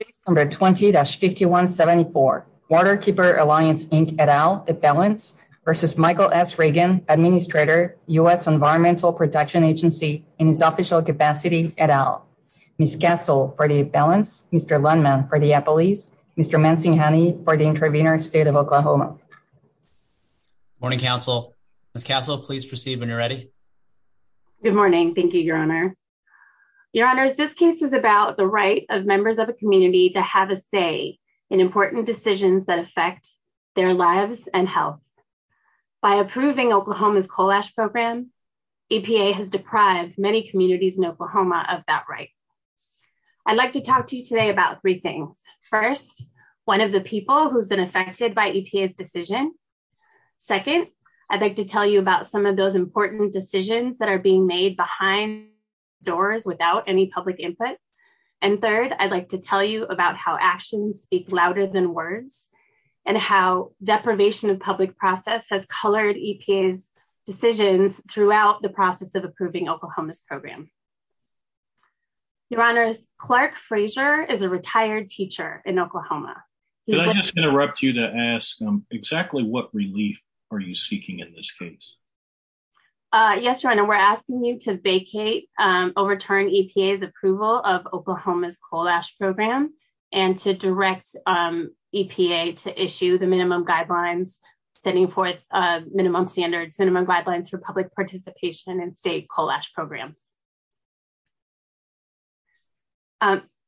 Case No. 20-5174, Waterkeeper Alliance, Inc. et al. A balance v. Michael S. Regan, Administrator, U.S. Environmental Protection Agency, in its official capacity et al. Ms. Castle for the balance, Mr. Lundman for the employees, Mr. Mansinghani for the intervener, State of Oklahoma. Morning, Counsel. Ms. Castle, please proceed when you're ready. Good morning. Thank you, Your Honor. Your Honor, this case is about the right of members of a community to have a say in important decisions that affect their lives and health. By approving Oklahoma's coal ash program, EPA has deprived many communities in Oklahoma of that right. I'd like to talk to you today about three things. First, one of the people who's been affected by EPA's decision. Second, I'd like to tell you about some of those important decisions that are being made behind doors without any public input. And third, I'd like to tell you about how actions speak louder than words and how deprivation of public process has colored EPA's decisions throughout the process of approving Oklahoma's program. Your Honor, Clark Frazier is a retired teacher in Oklahoma. Could I just interrupt you to ask exactly what relief are you seeking in this case? Yes, Your Honor, we're asking you to vacate, overturn EPA's approval of Oklahoma's coal ash program and to direct EPA to issue the minimum guidelines, sending forth minimum standards, minimum guidelines for public participation in state coal ash programs.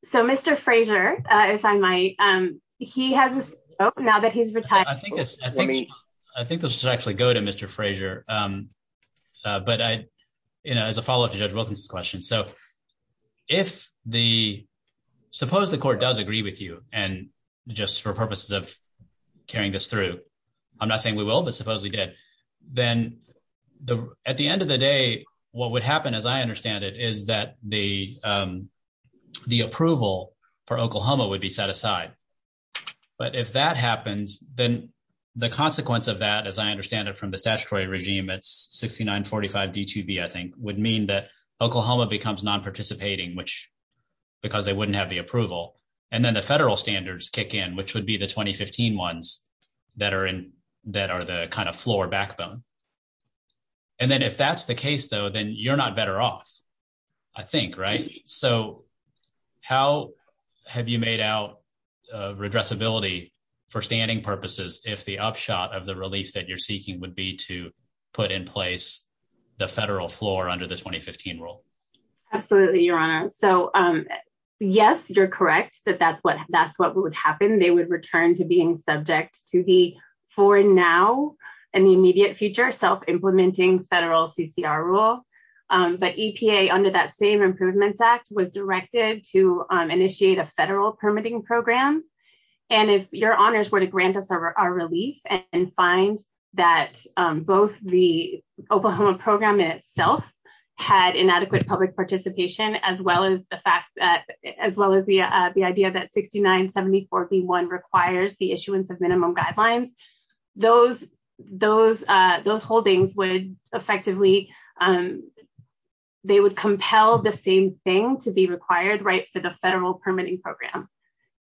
So, Mr. Frazier, if I might, he has now that he's retired. I think this should actually go to Mr. Frazier. But I, you know, as a follow up to Judge Wilkins' question. So, if the, suppose the court does agree with you, and just for purposes of carrying this through, I'm not saying we will, but suppose we did, then at the end of the day, what would happen, as I understand it, is that the approval for Oklahoma would be set aside. But if that happens, then the consequence of that, as I understand it from the statutory regime, it's 6945 D2B, I think, would mean that Oklahoma becomes non-participating, which, because they wouldn't have the approval. And then the federal standards kick in, which would be the 2015 ones that are in, that are the kind of floor backbone. And then if that's the case, though, then you're not better off, I think, right? So, how have you made out redressability for standing purposes if the upshot of the relief that you're seeking would be to put in place the federal floor under the 2015 rule? Absolutely, Your Honor. So, yes, you're correct that that's what would happen. They would return to being subject to the for now and the immediate future self-implementing federal CCR rule. But EPA, under that same Improvements Act, was directed to initiate a federal permitting program. And if Your Honors were to grant us our relief and find that both the Oklahoma program itself had inadequate public participation, as well as the fact that, as well as the idea that 6974B1 requires the issuance of minimum guidelines, those holdings would effectively, they would compel the same thing to be required, right, for the federal permitting program.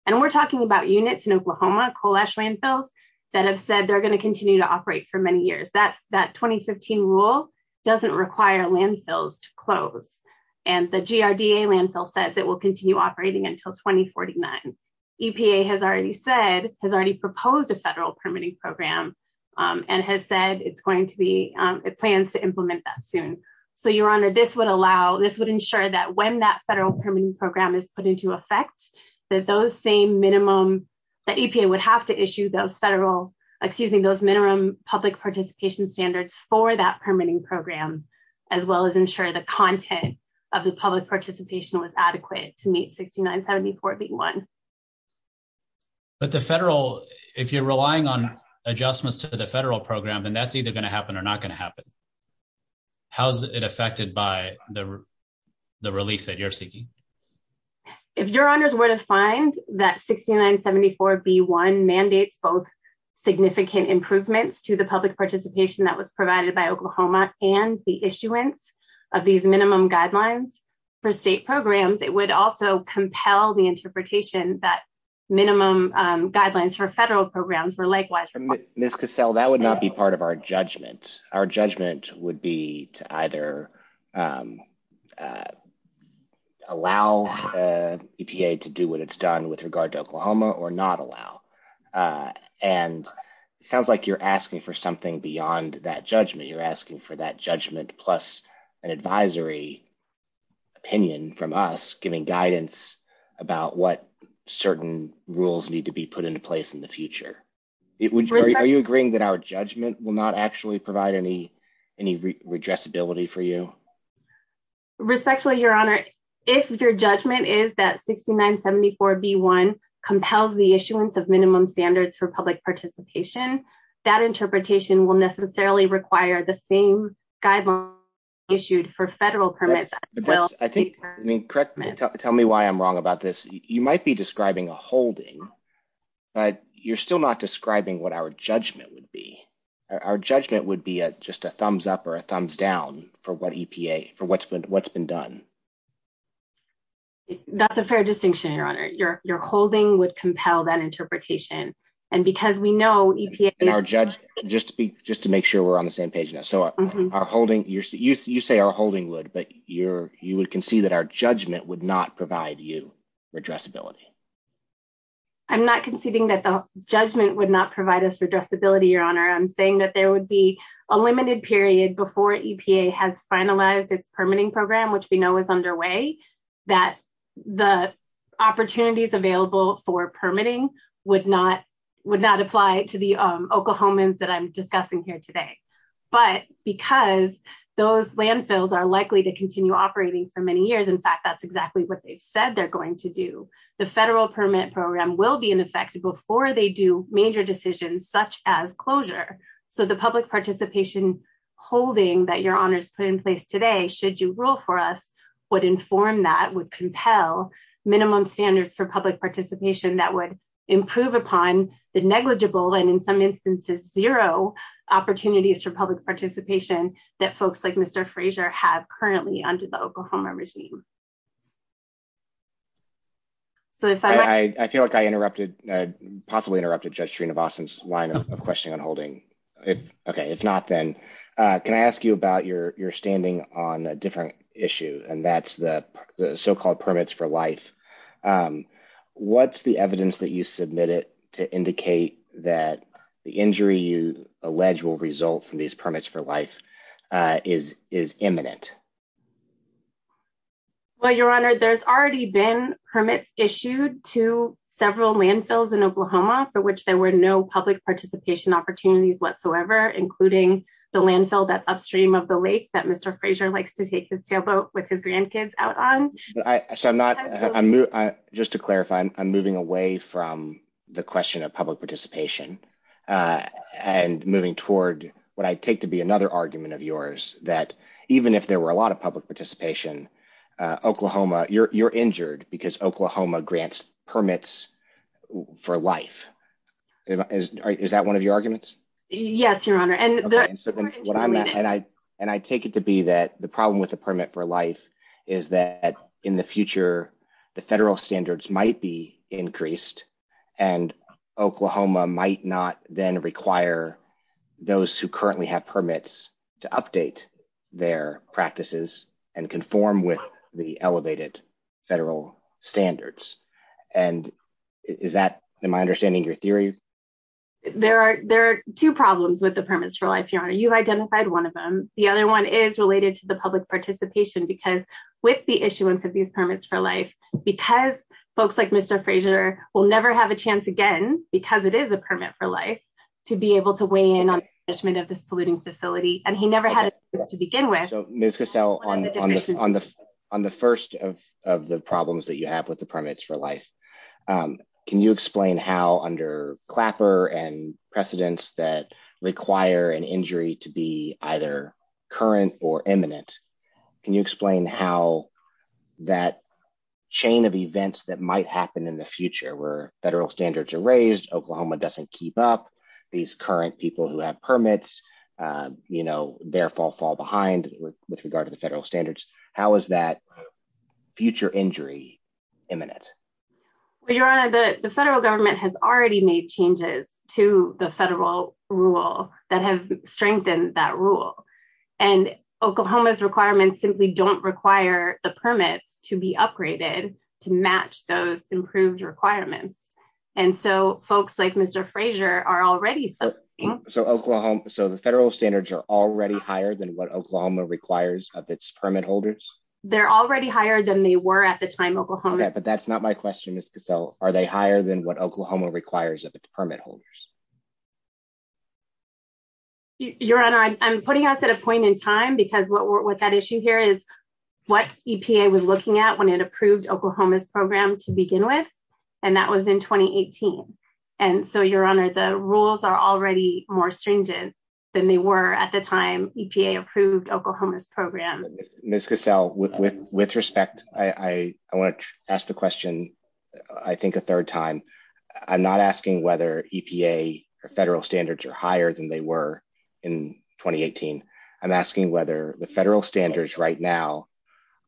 And we're talking about units in Oklahoma, coal ash landfills, that have said they're going to continue to operate for many years. That 2015 rule doesn't require landfills to close. And the GRDA landfill says it will continue operating until 2049. EPA has already said, has already proposed a federal permitting program and has said it's going to be, it plans to implement that soon. So, Your Honor, this would allow, this would ensure that when that federal permitting program is put into effect, that those same minimum, that EPA would have to issue those federal, excuse me, those minimum public participation standards for that permitting program, as well as ensure the content of the public participation was adequate to meet 6974B1. But the federal, if you're relying on adjustments to the federal program, then that's either going to happen or not going to happen. How's it affected by the relief that you're seeking? If Your Honors were to find that 6974B1 mandates both significant improvements to the public participation that was provided by Oklahoma and the issuance of these minimum guidelines for state programs, it would also compel the interpretation that minimum guidelines for federal programs were likewise required. Ms. Cassell, that would not be part of our judgment. Our judgment would be to either allow EPA to do what it's done with regard to Oklahoma or not allow. And it sounds like you're asking for something beyond that judgment. You're asking for that judgment plus an advisory opinion from us giving guidance about what certain rules need to be put into place in the future. Are you agreeing that our judgment will not actually provide any redressability for you? Respectfully, Your Honor, if your judgment is that 6974B1 compels the issuance of minimum standards for public participation, that interpretation will necessarily require the same guidelines issued for federal permits. Tell me why I'm wrong about this. You might be describing a holding, but you're still not describing what our judgment would be. Our judgment would be just a thumbs up or a thumbs down for what EPA, for what's been done. That's a fair distinction, Your Honor. Your holding would compel that interpretation. Just to make sure we're on the same page now. You say our holding would, but you would concede that our judgment would not provide you redressability. I'm not conceding that the judgment would not provide us redressability, Your Honor. I'm saying that there would be a limited period before EPA has finalized its permitting program, which we know is underway, that the opportunities available for permitting would not apply to the Oklahomans that I'm discussing here today. But because those landfills are likely to continue operating for many years, in fact, that's exactly what they've said they're going to do, the federal permit program will be in effect before they do major decisions such as closure. So the public participation holding that Your Honor has put in place today, should you rule for us, would inform that, would compel minimum standards for public participation that would improve upon the negligible, and in some instances zero, opportunities for public participation that folks like Mr. Frazier have currently under the Oklahoma regime. I feel like I interrupted, possibly interrupted Judge Sreenivasan's line of question on holding. Okay, if not, then can I ask you about your standing on a different issue, and that's the so-called permits for life. What's the evidence that you submitted to indicate that the injury you allege will result from these permits for life is imminent? Well, Your Honor, there's already been permits issued to several landfills in Oklahoma for which there were no public participation opportunities whatsoever, including the landfill that's upstream of the lake that Mr. Frazier likes to take his sailboat with his grandkids out on. So I'm not, just to clarify, I'm moving away from the question of public participation, and moving toward what I take to be another argument of yours, that even if there were a lot of public participation, Oklahoma, you're injured because Oklahoma grants permits for life. Is that one of your arguments? Yes, Your Honor. And I take it to be that the problem with the permit for life is that in the future, the federal standards might be increased, and Oklahoma might not then require those who currently have permits to update their practices and conform with the elevated federal standards. And is that, in my understanding, your theory? There are two problems with the permits for life, Your Honor. You've identified one of them. The other one is related to the public participation, because with the issuance of these permits for life, because folks like Mr. Frazier will never have a chance again, because it is a permit for life, to be able to weigh in on the management of this polluting facility, and he never had a chance to begin with. So, Ms. Cassell, on the first of the problems that you have with the permits for life, can you explain how, under Clapper and precedents that require an injury to be either current or imminent, can you explain how that chain of events that might happen in the future, where federal standards are raised, Oklahoma doesn't keep up, these current people who have permits, you know, therefore fall behind with regard to the federal standards, how is that future injury imminent? Well, Your Honor, the federal government has already made changes to the federal rule that have strengthened that rule. And Oklahoma's requirements simply don't require the permits to be upgraded to match those improved requirements. And so folks like Mr. Frazier are already... So the federal standards are already higher than what Oklahoma requires of its permit holders? They're already higher than they were at the time Oklahoma... But that's not my question, Ms. Cassell. Are they higher than what Oklahoma requires of its permit holders? Your Honor, I'm putting us at a point in time, because what that issue here is, what EPA was looking at when it approved Oklahoma's program to begin with, and that was in 2018. And so, Your Honor, the rules are already more stringent than they were at the time EPA approved Oklahoma's program. Ms. Cassell, with respect, I want to ask the question, I think, a third time. I'm not asking whether EPA or federal standards are higher than they were in 2018. I'm asking whether the federal standards right now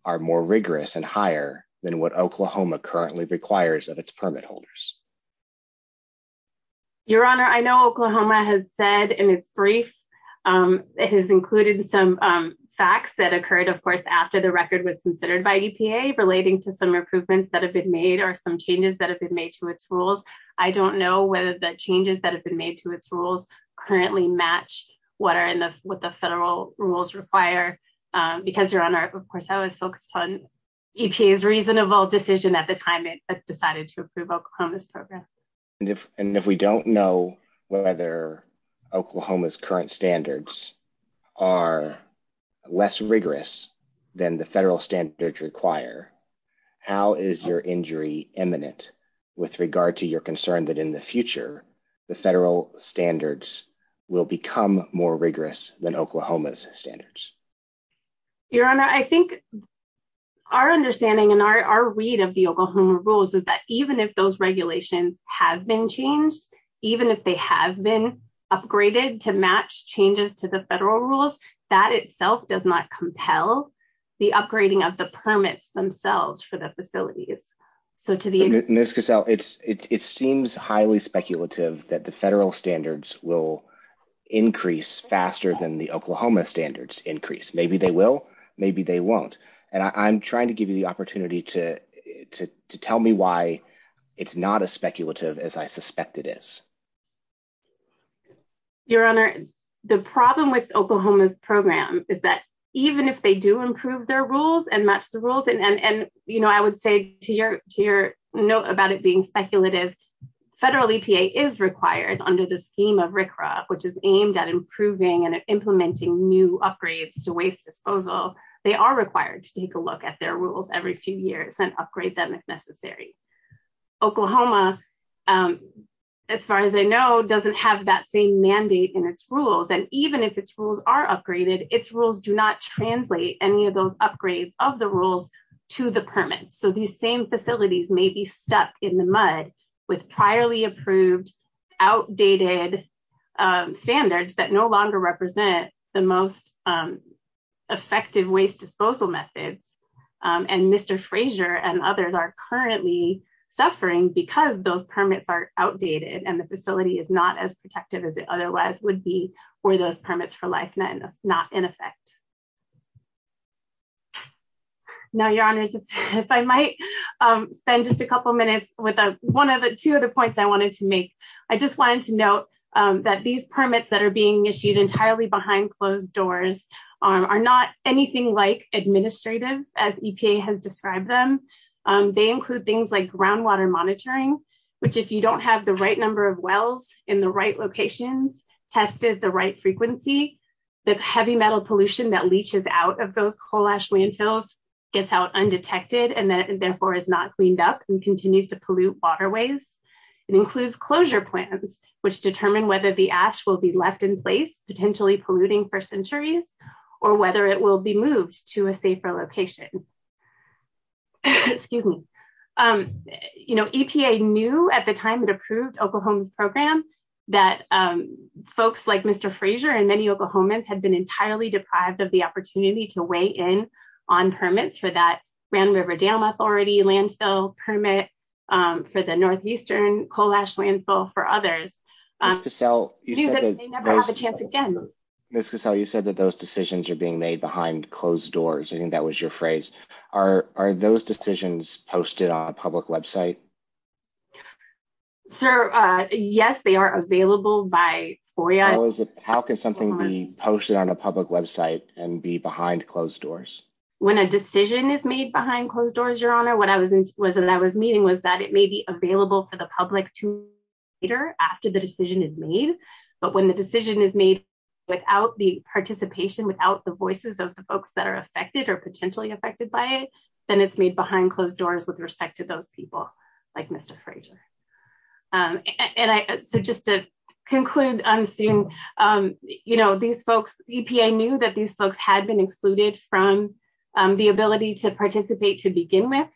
are more rigorous and higher than what Oklahoma currently requires of its permit holders. Your Honor, I know Oklahoma has said in its brief, it has included some facts that occurred, of course, after the record was considered by EPA, relating to some improvements that have been made or some changes that have been made to its rules. I don't know whether the changes that have been made to its rules currently match what the federal rules require. Because, Your Honor, of course, I was focused on EPA's reasonable decision at the time it decided to approve Oklahoma's program. And if we don't know whether Oklahoma's current standards are less rigorous than the federal standards require, how is your injury imminent with regard to your concern that in the future, the federal standards will become more rigorous than Oklahoma's standards? Your Honor, I think our understanding and our read of the Oklahoma rules is that even if those regulations have been changed, even if they have been upgraded to match changes to the federal rules, that itself does not compel the upgrading of the permits themselves for the facilities. Ms. Cassell, it seems highly speculative that the federal standards will increase faster than the Oklahoma standards increase. Maybe they will, maybe they won't. And I'm trying to give you the opportunity to tell me why it's not as speculative as I suspect it is. Your Honor, the problem with Oklahoma's program is that even if they do improve their rules and match the rules, and I would say to your note about it being speculative, federal EPA is required under the scheme of RCRA, which is aimed at improving and implementing new upgrades to waste disposal. They are required to take a look at their rules every few years and upgrade them if necessary. Oklahoma, as far as I know, doesn't have that same mandate in its rules. And even if its rules are upgraded, its rules do not translate any of those upgrades of the rules to the permits. So these same facilities may be stuck in the mud with priorly approved, outdated standards that no longer represent the most effective waste disposal methods. And Mr. Frazier and others are currently suffering because those permits are outdated and the facility is not as protective as it otherwise would be were those permits for life not in effect. Now, Your Honors, if I might spend just a couple minutes with one of the two other points I wanted to make. I just wanted to note that these permits that are being issued entirely behind closed doors are not anything like administrative as EPA has described them. They include things like groundwater monitoring, which if you don't have the right number of wells in the right locations, tested the right frequency, the heavy metal pollution that leaches out of those coal ash landfills gets out undetected and therefore is not cleaned up and continues to pollute waterways. It includes closure plans, which determine whether the ash will be left in place, potentially polluting for centuries, or whether it will be moved to a safer location. You know, EPA knew at the time it approved Oklahoma's program that folks like Mr. Frazier and many Oklahomans had been entirely deprived of the opportunity to weigh in on permits for that Grand River Dam Authority landfill permit for the northeastern coal ash landfill for others. Ms. Cassell, you said that those decisions are being made behind closed doors. I think that was your phrase. Are those decisions posted on a public website? Sir, yes, they are available by FOIA. How can something be posted on a public website and be behind closed doors? When a decision is made behind closed doors, Your Honor, what I was meaning was that it may be available for the public to hear after the decision is made. But when the decision is made without the participation, without the voices of the folks that are affected or potentially affected by it, then it's made behind closed doors with respect to those people like Mr. Frazier. And so just to conclude on seeing, you know, these folks, EPA knew that these folks had been excluded from the ability to participate to begin with.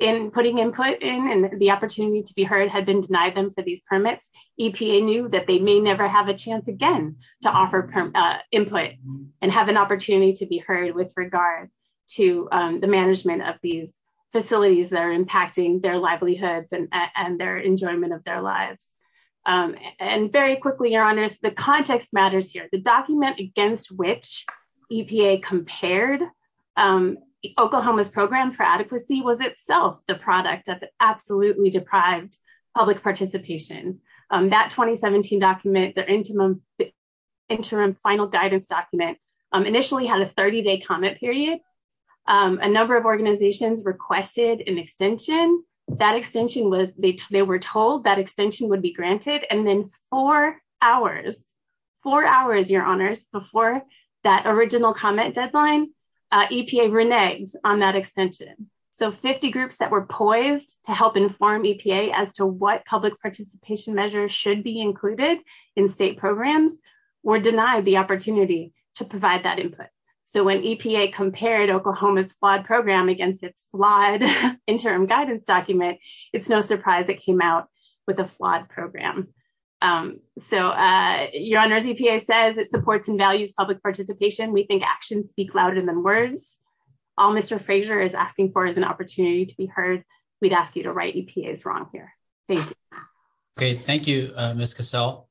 In putting input in and the opportunity to be heard had been denied them for these permits. EPA knew that they may never have a chance again to offer input and have an opportunity to be heard with regard to the management of these facilities that are impacting their livelihoods and their enjoyment of their lives. And very quickly, Your Honors, the context matters here. The document against which EPA compared Oklahoma's program for adequacy was itself the product of absolutely deprived public participation. That 2017 document, their interim final guidance document, initially had a 30-day comment period. A number of organizations requested an extension. That extension was, they were told that extension would be granted. And then four hours, four hours, Your Honors, before that original comment deadline, EPA reneged on that extension. So 50 groups that were poised to help inform EPA as to what public participation measures should be included in state programs were denied the opportunity to provide that input. So when EPA compared Oklahoma's flawed program against its flawed interim guidance document, it's no surprise it came out with a flawed program. So Your Honors, EPA says it supports and values public participation. We think actions speak louder than words. All Mr. Frazier is asking for is an opportunity to be heard. We'd ask you to right EPA's wrong here. Thank you. Okay, thank you, Ms. Cassell.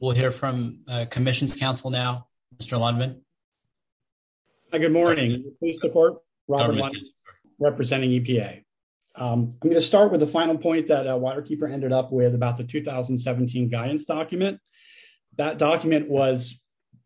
We'll hear from Commission's Counsel now, Mr. Lundman. Good morning. Robert Lundman, representing EPA. I'm going to start with the final point that Waterkeeper ended up with about the 2017 guidance document. That document was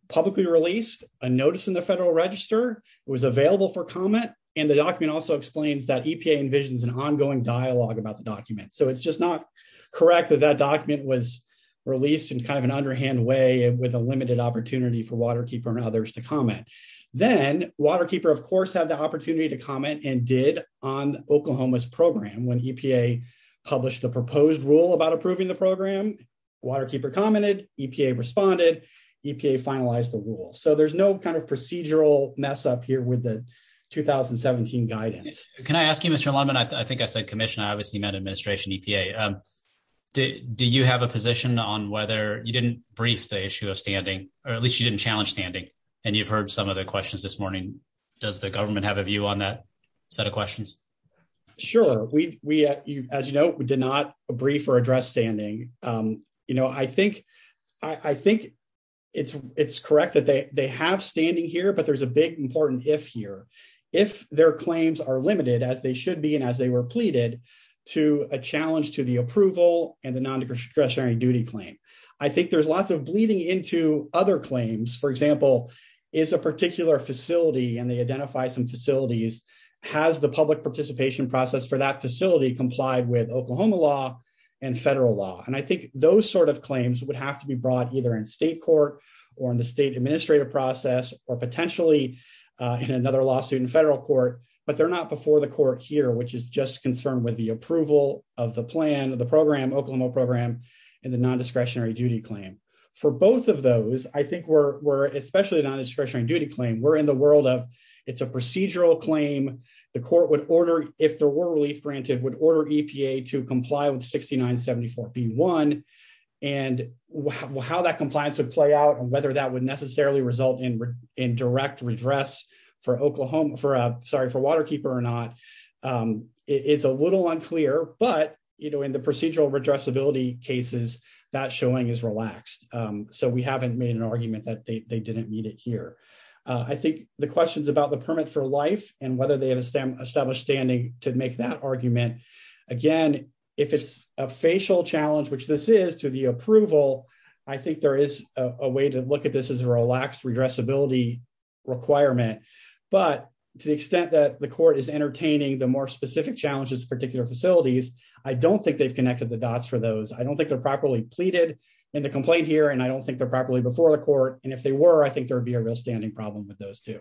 publicly released, a notice in the Federal Register, it was available for comment, and the document also explains that EPA envisions an ongoing dialogue about the document. So it's just not correct that that document was released in kind of an underhand way with a limited opportunity for Waterkeeper and others to comment. Then Waterkeeper, of course, had the opportunity to comment and did on Oklahoma's program. When EPA published the proposed rule about approving the program, Waterkeeper commented, EPA responded, EPA finalized the rule. So there's no kind of procedural mess up here with the 2017 guidance. Can I ask you, Mr. Lundman, I think I said Commission, I obviously meant administration, EPA. Do you have a position on whether you didn't brief the issue of standing, or at least you didn't challenge standing? And you've heard some of the questions this morning. Does the government have a view on that set of questions? Sure. As you know, we did not brief or address standing. I think it's correct that they have standing here, but there's a big important if here. If their claims are limited, as they should be and as they were pleaded, to a challenge to the approval and the non-discretionary duty claim. I think there's lots of bleeding into other claims. For example, is a particular facility, and they identify some facilities, has the public participation process for that facility complied with Oklahoma law and federal law? And I think those sort of claims would have to be brought either in state court or in the state administrative process, or potentially in another lawsuit in federal court. But they're not before the court here, which is just concerned with the approval of the plan, of the program, Oklahoma program, and the non-discretionary duty claim. For both of those, I think we're, especially the non-discretionary duty claim, we're in the world of, it's a procedural claim. The court would order, if there were relief granted, would order EPA to comply with 6974B1. And how that compliance would play out and whether that would necessarily result in direct redress for Oklahoma, sorry, for Waterkeeper or not, is a little unclear. But in the procedural redressability cases, that showing is relaxed. So we haven't made an argument that they didn't meet it here. I think the questions about the permit for life and whether they have established standing to make that argument, again, if it's a facial challenge, which this is to the approval, I think there is a way to look at this as a relaxed redressability requirement. But to the extent that the court is entertaining the more specific challenges, particular facilities, I don't think they've connected the dots for those. I don't think they're properly pleaded in the complaint here, and I don't think they're properly before the court. And if they were, I think there would be a real standing problem with those two.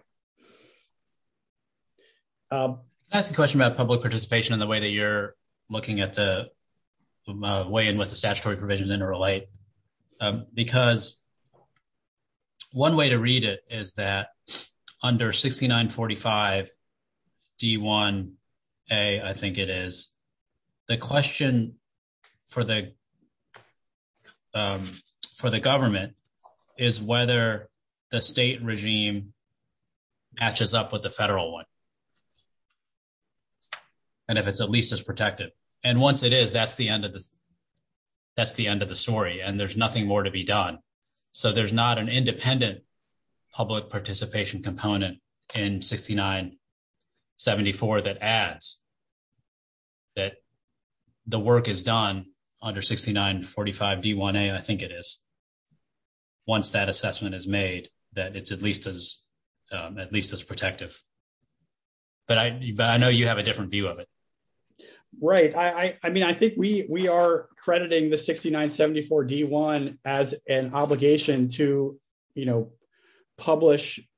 Can I ask a question about public participation in the way that you're looking at the way in which the statutory provisions interrelate? Because one way to read it is that under 6945D1A, I think it is, the question for the government is whether the state regime matches up with the federal one. And if it's at least as protective. And once it is, that's the end of the story, and there's nothing more to be done. So there's not an independent public participation component in 6974 that adds that the work is done under 6945D1A, I think it is, once that assessment is made, that it's at least as protective. But I know you have a different view of it. Right. I mean, I think we are crediting the 6974D1 as an obligation to, you know,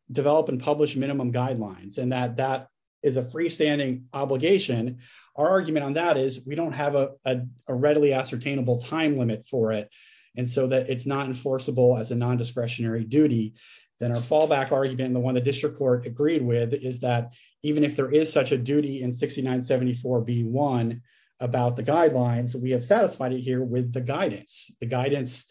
develop and publish minimum guidelines and that that is a freestanding obligation. Our argument on that is we don't have a readily ascertainable time limit for it. And so that it's not enforceable as a non-discretionary duty. Then our fallback argument, the one the district court agreed with, is that even if there is such a duty in 6974B1 about the guidelines, we have satisfied it here with the guidance. The guidance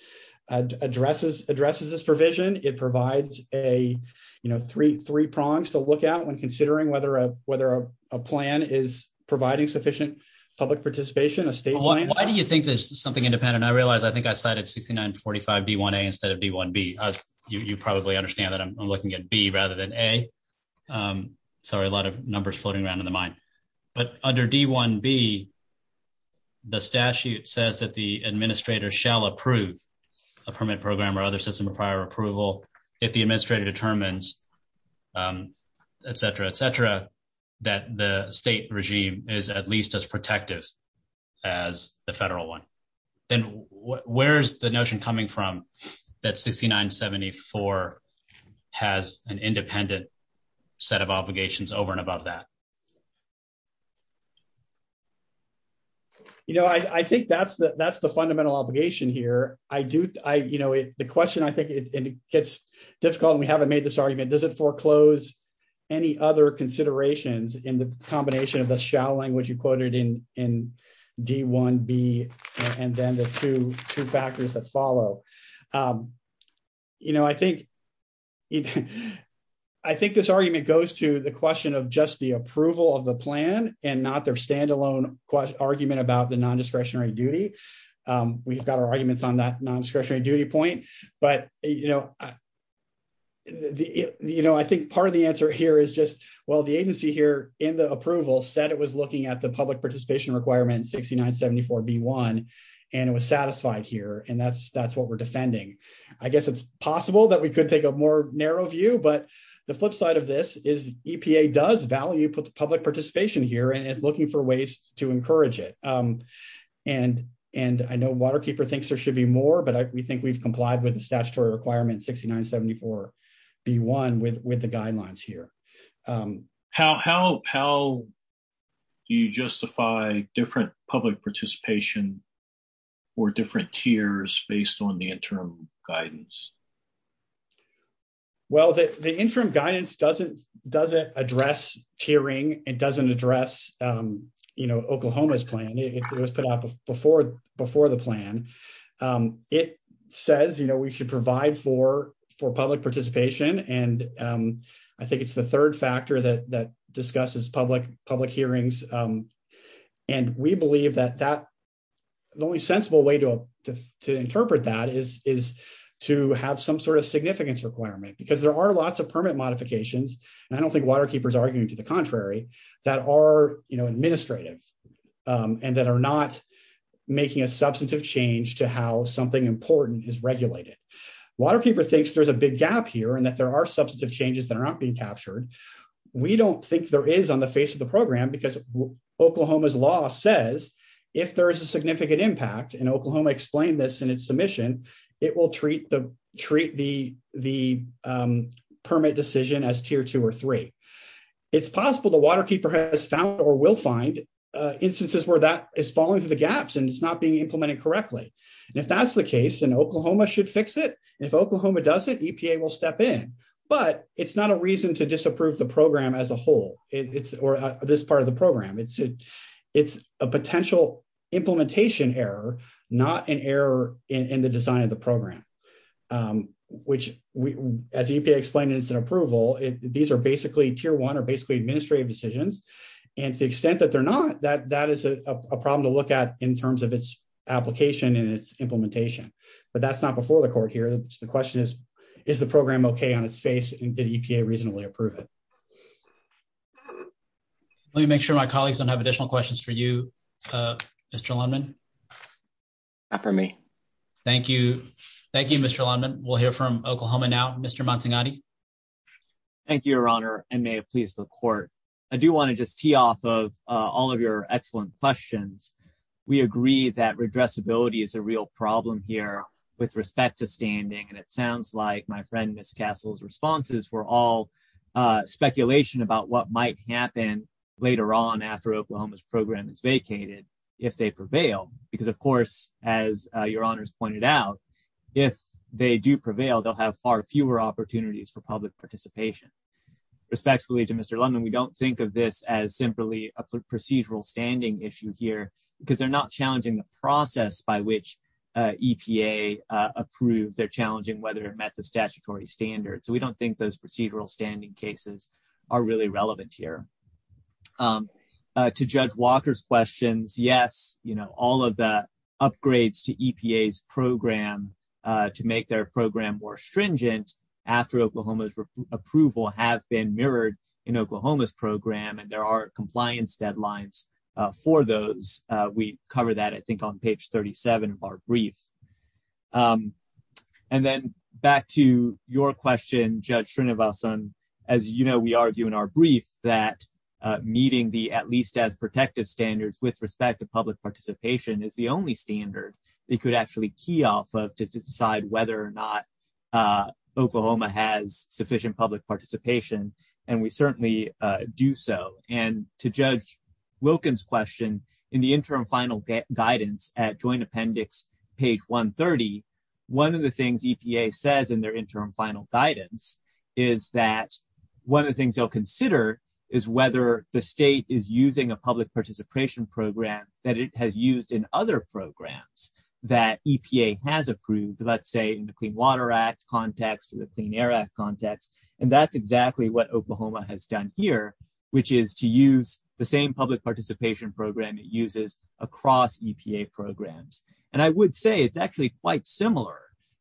addresses this provision. It provides a, you know, three prongs to look at when considering whether a plan is providing sufficient public participation, a state plan. Why do you think there's something independent? I realize I think I cited 6945D1A instead of D1B. You probably understand that I'm looking at B rather than A. Sorry, a lot of numbers floating around in the mind. But under D1B, the statute says that the administrator shall approve a permit program or other system of prior approval if the administrator determines, et cetera, et cetera, that the state regime is at least as protective as the federal one. Then where's the notion coming from that 6974 has an independent set of obligations over and above that? You know, I think that's the fundamental obligation here. I do, you know, the question, I think it gets difficult and we haven't made this argument. Does it foreclose any other considerations in the combination of the shall language you quoted in D1B and then the two factors that follow? You know, I think, I think this argument goes to the question of just the approval of the plan and not their standalone argument about the nondiscretionary duty. We've got our arguments on that nondiscretionary duty point. But, you know, you know, I think part of the answer here is just, well, the agency here in the approval said it was looking at the public participation requirement 6974B1. And it was satisfied here. And that's what we're defending. I guess it's possible that we could take a more narrow view. But the flip side of this is EPA does value public participation here and is looking for ways to encourage it. And I know Waterkeeper thinks there should be more, but we think we've complied with the statutory requirement 6974B1 with the guidelines here. How do you justify different public participation or different tiers based on the interim guidance? Well, the interim guidance doesn't address tiering. It doesn't address, you know, Oklahoma's plan. It was put out before the plan. It says, you know, we should provide for public participation. And I think it's the third factor that discusses public hearings. And we believe that the only sensible way to interpret that is to have some sort of significance requirement because there are lots of permit modifications. And I don't think Waterkeeper is arguing to the contrary, that are, you know, administrative and that are not making a substantive change to how something important is regulated. Waterkeeper thinks there's a big gap here and that there are substantive changes that are not being captured. We don't think there is on the face of the program because Oklahoma's law says if there is a significant impact, and Oklahoma explained this in its submission, it will treat the permit decision as Tier 2 or 3. It's possible that Waterkeeper has found or will find instances where that is falling through the gaps and it's not being implemented correctly. And if that's the case, then Oklahoma should fix it. If Oklahoma does it, EPA will step in. But it's not a reason to disapprove the program as a whole, or this part of the program. It's a potential implementation error, not an error in the design of the program. Let me make sure my colleagues don't have additional questions for you, Mr. Lundman. Not for me. Thank you. Thank you, Mr. Lundman. We'll hear from Oklahoma now. Mr. Mantegatti. Thank you, Your Honor, and may it please the court. I do want to just tee off of all of your excellent questions. We agree that redressability is a real problem here with respect to standing and it sounds like my friend Ms. Castle's responses were all speculation about what might happen later on after Oklahoma's program is vacated if they prevail, because of course, as Your Honor's pointed out, if they do prevail, they'll have far fewer opportunities for public participation. Respectfully to Mr. Lundman, we don't think of this as simply a procedural standing issue here because they're not challenging the process by which EPA approved, they're challenging whether it met the statutory standards. So we don't think those procedural standing cases are really relevant here. To Judge Walker's questions, yes, you know, all of the upgrades to EPA's program to make their program more stringent after Oklahoma's approval have been mirrored in Oklahoma's program and there are compliance deadlines for those. We cover that I think on page 37 of our brief. And then back to your question, Judge Srinivasan, as you know, we argue in our brief that meeting the at least as protective standards with respect to public participation is the only standard they could actually key off of to decide whether or not Oklahoma has sufficient public participation, and we certainly do so. And to Judge Wilkins' question, in the interim final guidance at Joint Appendix, page 130, one of the things EPA says in their interim final guidance is that one of the things they'll consider is whether the state is using a public participation program that it has used in other programs that EPA has approved, let's say in the Clean Water Act context or the Clean Air Act context, and that's exactly what Oklahoma has done here, which is to use the same public participation program it uses across EPA programs. And I would say it's actually quite similar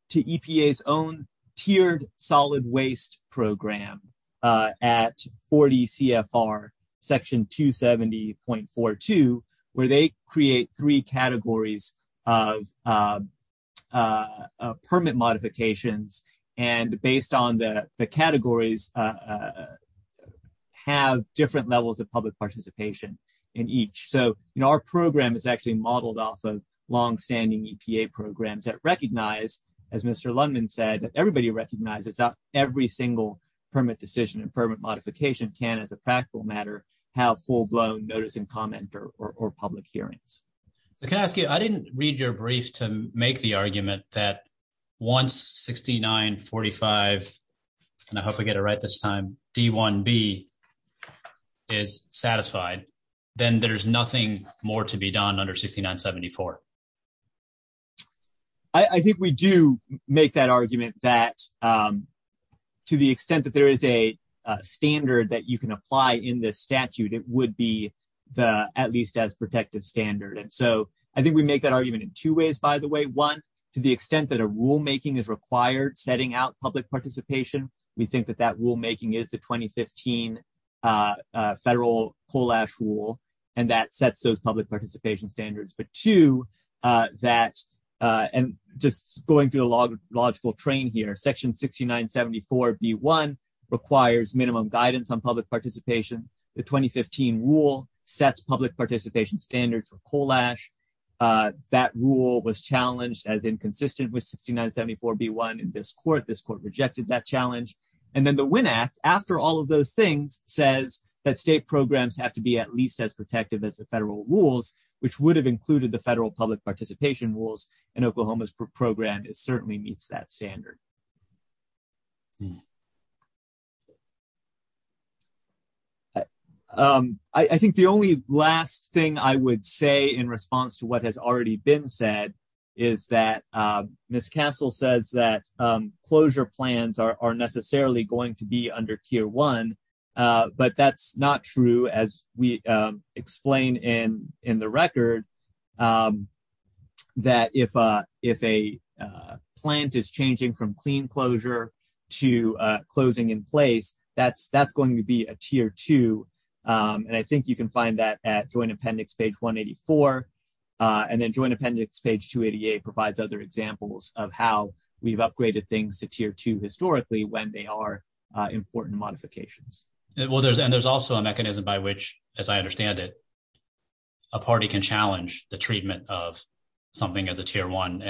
to EPA's own tiered solid waste program at 40 CFR section 270.42, where they create three categories of permit modifications and based on the categories have different levels of public participation in each. So, you know, our program is actually modeled off of longstanding EPA programs that recognize, as Mr. Lundman said, everybody recognizes that every single permit decision and permit modification can, as a practical matter, have full-blown notice and comment or public hearings. Can I ask you, I didn't read your brief to make the argument that once 6945, and I hope I get it right this time, D1B is satisfied, then there's nothing more to be done under 6974. I think we do make that argument that to the extent that there is a standard that you can apply in this statute, it would be at least as protective standard. And so I think we make that argument in two ways, by the way. One, to the extent that a rulemaking is required, setting out public participation, we think that that rulemaking is the 2015 federal coal ash rule, and that sets those public participation standards. But two, that, and just going through the logical train here, section 6974B1 requires minimum guidance on public participation. The 2015 rule sets public participation standards for coal ash. That rule was challenged as inconsistent with 6974B1 in this court. This court rejected that challenge. And then the Winn Act, after all of those things, says that state programs have to be at least as protective as the federal rules, which would have included the federal public participation rules, and Oklahoma's program certainly meets that standard. I think the only last thing I would say in response to what has already been said is that Miss Castle says that closure plans are necessarily going to be under tier one. But that's not true, as we explain in the record, that if a plant is changing from clean closure to closing in place, that's going to be a tier two. And I think you can find that at Joint Appendix page 184. And then Joint Appendix page 288 provides other examples of how we've upgraded things to tier two historically when they are important modifications. And there's also a mechanism by which, as I understand it, a party can challenge the treatment of something as a tier one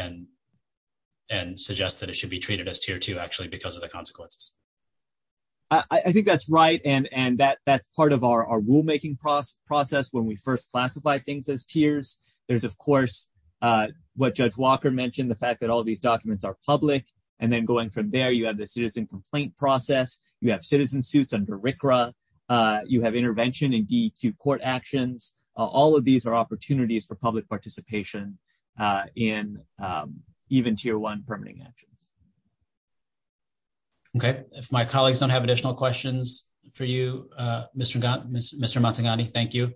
and suggest that it should be treated as tier two actually because of the consequences. I think that's right. And that's part of our rulemaking process when we first classify things as tiers. There's, of course, what Judge Walker mentioned, the fact that all these documents are public. And then going from there, you have the citizen complaint process, you have citizen suits under RCRA, you have intervention in DEQ court actions. All of these are opportunities for public participation in even tier one permitting actions. All right. If my colleagues don't have additional questions for you, Mr. Matsugane, thank you.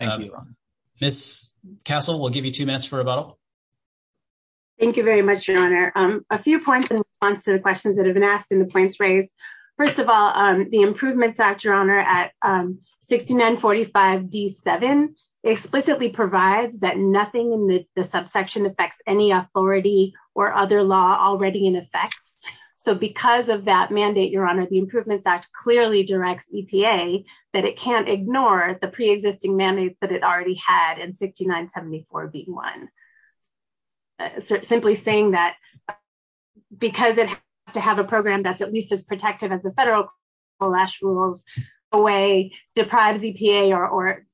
Thank you, Your Honor. Ms. Castle, we'll give you two minutes for rebuttal. Thank you very much, Your Honor. A few points in response to the questions that have been asked and the points raised. First of all, the Improvements Act, Your Honor, at 6945 D7 explicitly provides that nothing in the subsection affects any authority or other law already in effect. So because of that mandate, Your Honor, the Improvements Act clearly directs EPA that it can't ignore the pre-existing mandate that it already had in 6974B1. Simply saying that, because it has to have a program that's at least as protective as the federal COALESH rules in a way deprives EPA or,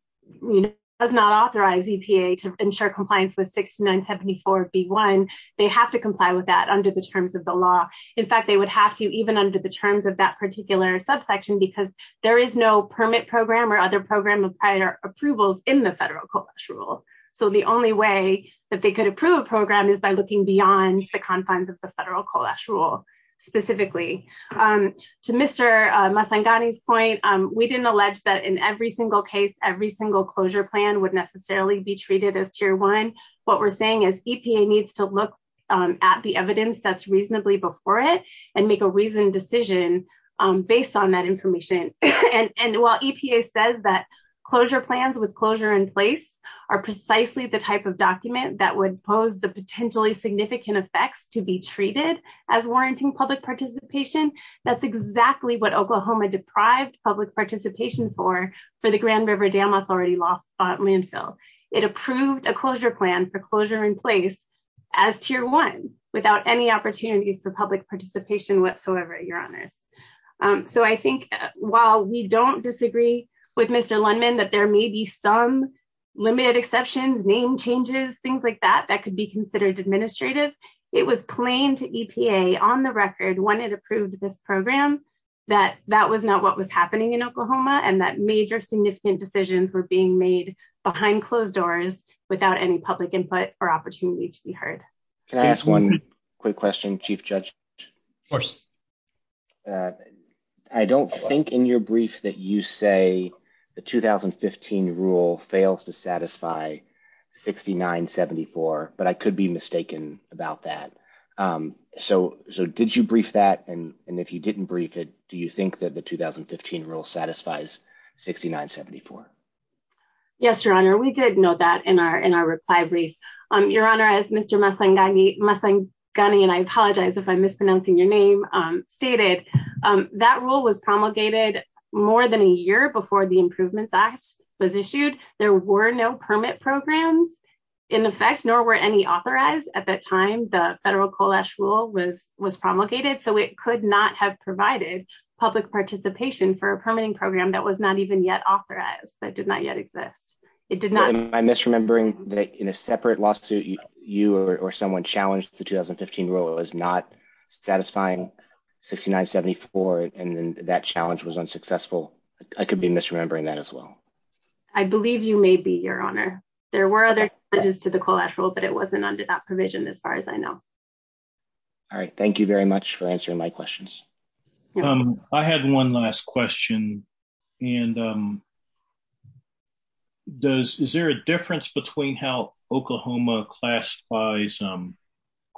you know, does not authorize EPA to ensure compliance with 6974B1, they have to comply with that under the terms of the law. In fact, they would have to even under the terms of that particular subsection because there is no permit program or other program of prior approvals in the federal COALESH rule. So the only way that they could approve a program is by looking beyond the confines of the federal COALESH rule specifically. To Mr. Masangani's point, we didn't allege that in every single case, every single closure plan would necessarily be treated as Tier 1. What we're saying is EPA needs to look at the evidence that's reasonably before it and make a reasoned decision based on that information. While EPA says that closure plans with closure in place are precisely the type of document that would pose the potentially significant effects to be treated as warranting public participation, that's exactly what Oklahoma deprived public participation for for the Grand River Dam Authority landfill. It approved a closure plan for closure in place as Tier 1 without any opportunities for public participation whatsoever, Your Honors. So I think while we don't disagree with Mr. Lundman that there may be some limited exceptions, name changes, things like that, that could be considered administrative, it was plain to EPA on the record when it approved this program that that was not what was happening in Oklahoma and that major significant decisions were being made behind closed doors without any public input or opportunity to be heard. Can I ask one quick question, Chief Judge? Of course. I don't think in your brief that you say the 2015 rule fails to satisfy 69-74, but I could be mistaken about that. So so did you brief that? And if you didn't brief it, do you think that the 2015 rule satisfies 69-74? Yes, Your Honor, we did know that in our reply brief. Your Honor, as Mr. Masangani, and I apologize if I'm mispronouncing your name, stated, that rule was promulgated more than a year before the Improvements Act was issued. There were no permit programs in effect, nor were any authorized at that time. The federal COALESH rule was promulgated, so it could not have provided public participation for a permitting program that was not even yet authorized, that did not yet exist. Am I misremembering that in a separate lawsuit, you or someone challenged the 2015 rule as not satisfying 69-74 and that challenge was unsuccessful? I could be misremembering that as well. I believe you may be, Your Honor. There were other challenges to the COALESH rule, but it wasn't under that provision as far as I know. All right. Thank you very much for answering my questions. I had one last question. Is there a difference between how Oklahoma classifies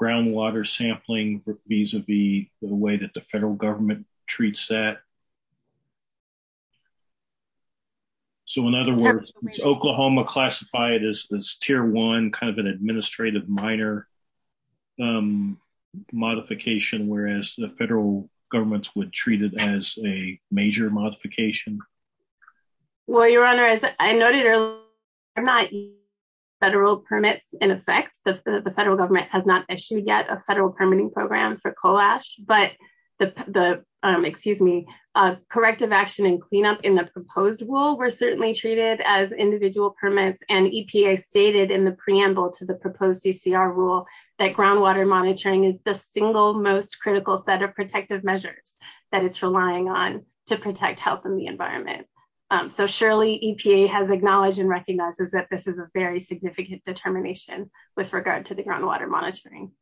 groundwater sampling vis-a-vis the way that the federal government treats that? So, in other words, Oklahoma classified as Tier 1, kind of an administrative minor modification, whereas the federal government would treat it as a major modification? Well, Your Honor, as I noted earlier, there are no federal permits in effect. The federal government has not issued yet a federal permitting program for COALESH, but the, excuse me, corrective action and cleanup in the proposed rule were certainly treated as individual permits, and EPA stated in the preamble to the proposed CCR rule that groundwater monitoring is the single most critical set of protective measures that it's relying on to protect health and the environment. So surely EPA has acknowledged and recognizes that this is a very significant determination with regard to the groundwater monitoring.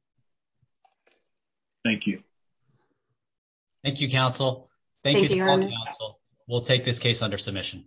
Thank you. Thank you, counsel. Thank you. We'll take this case under submission.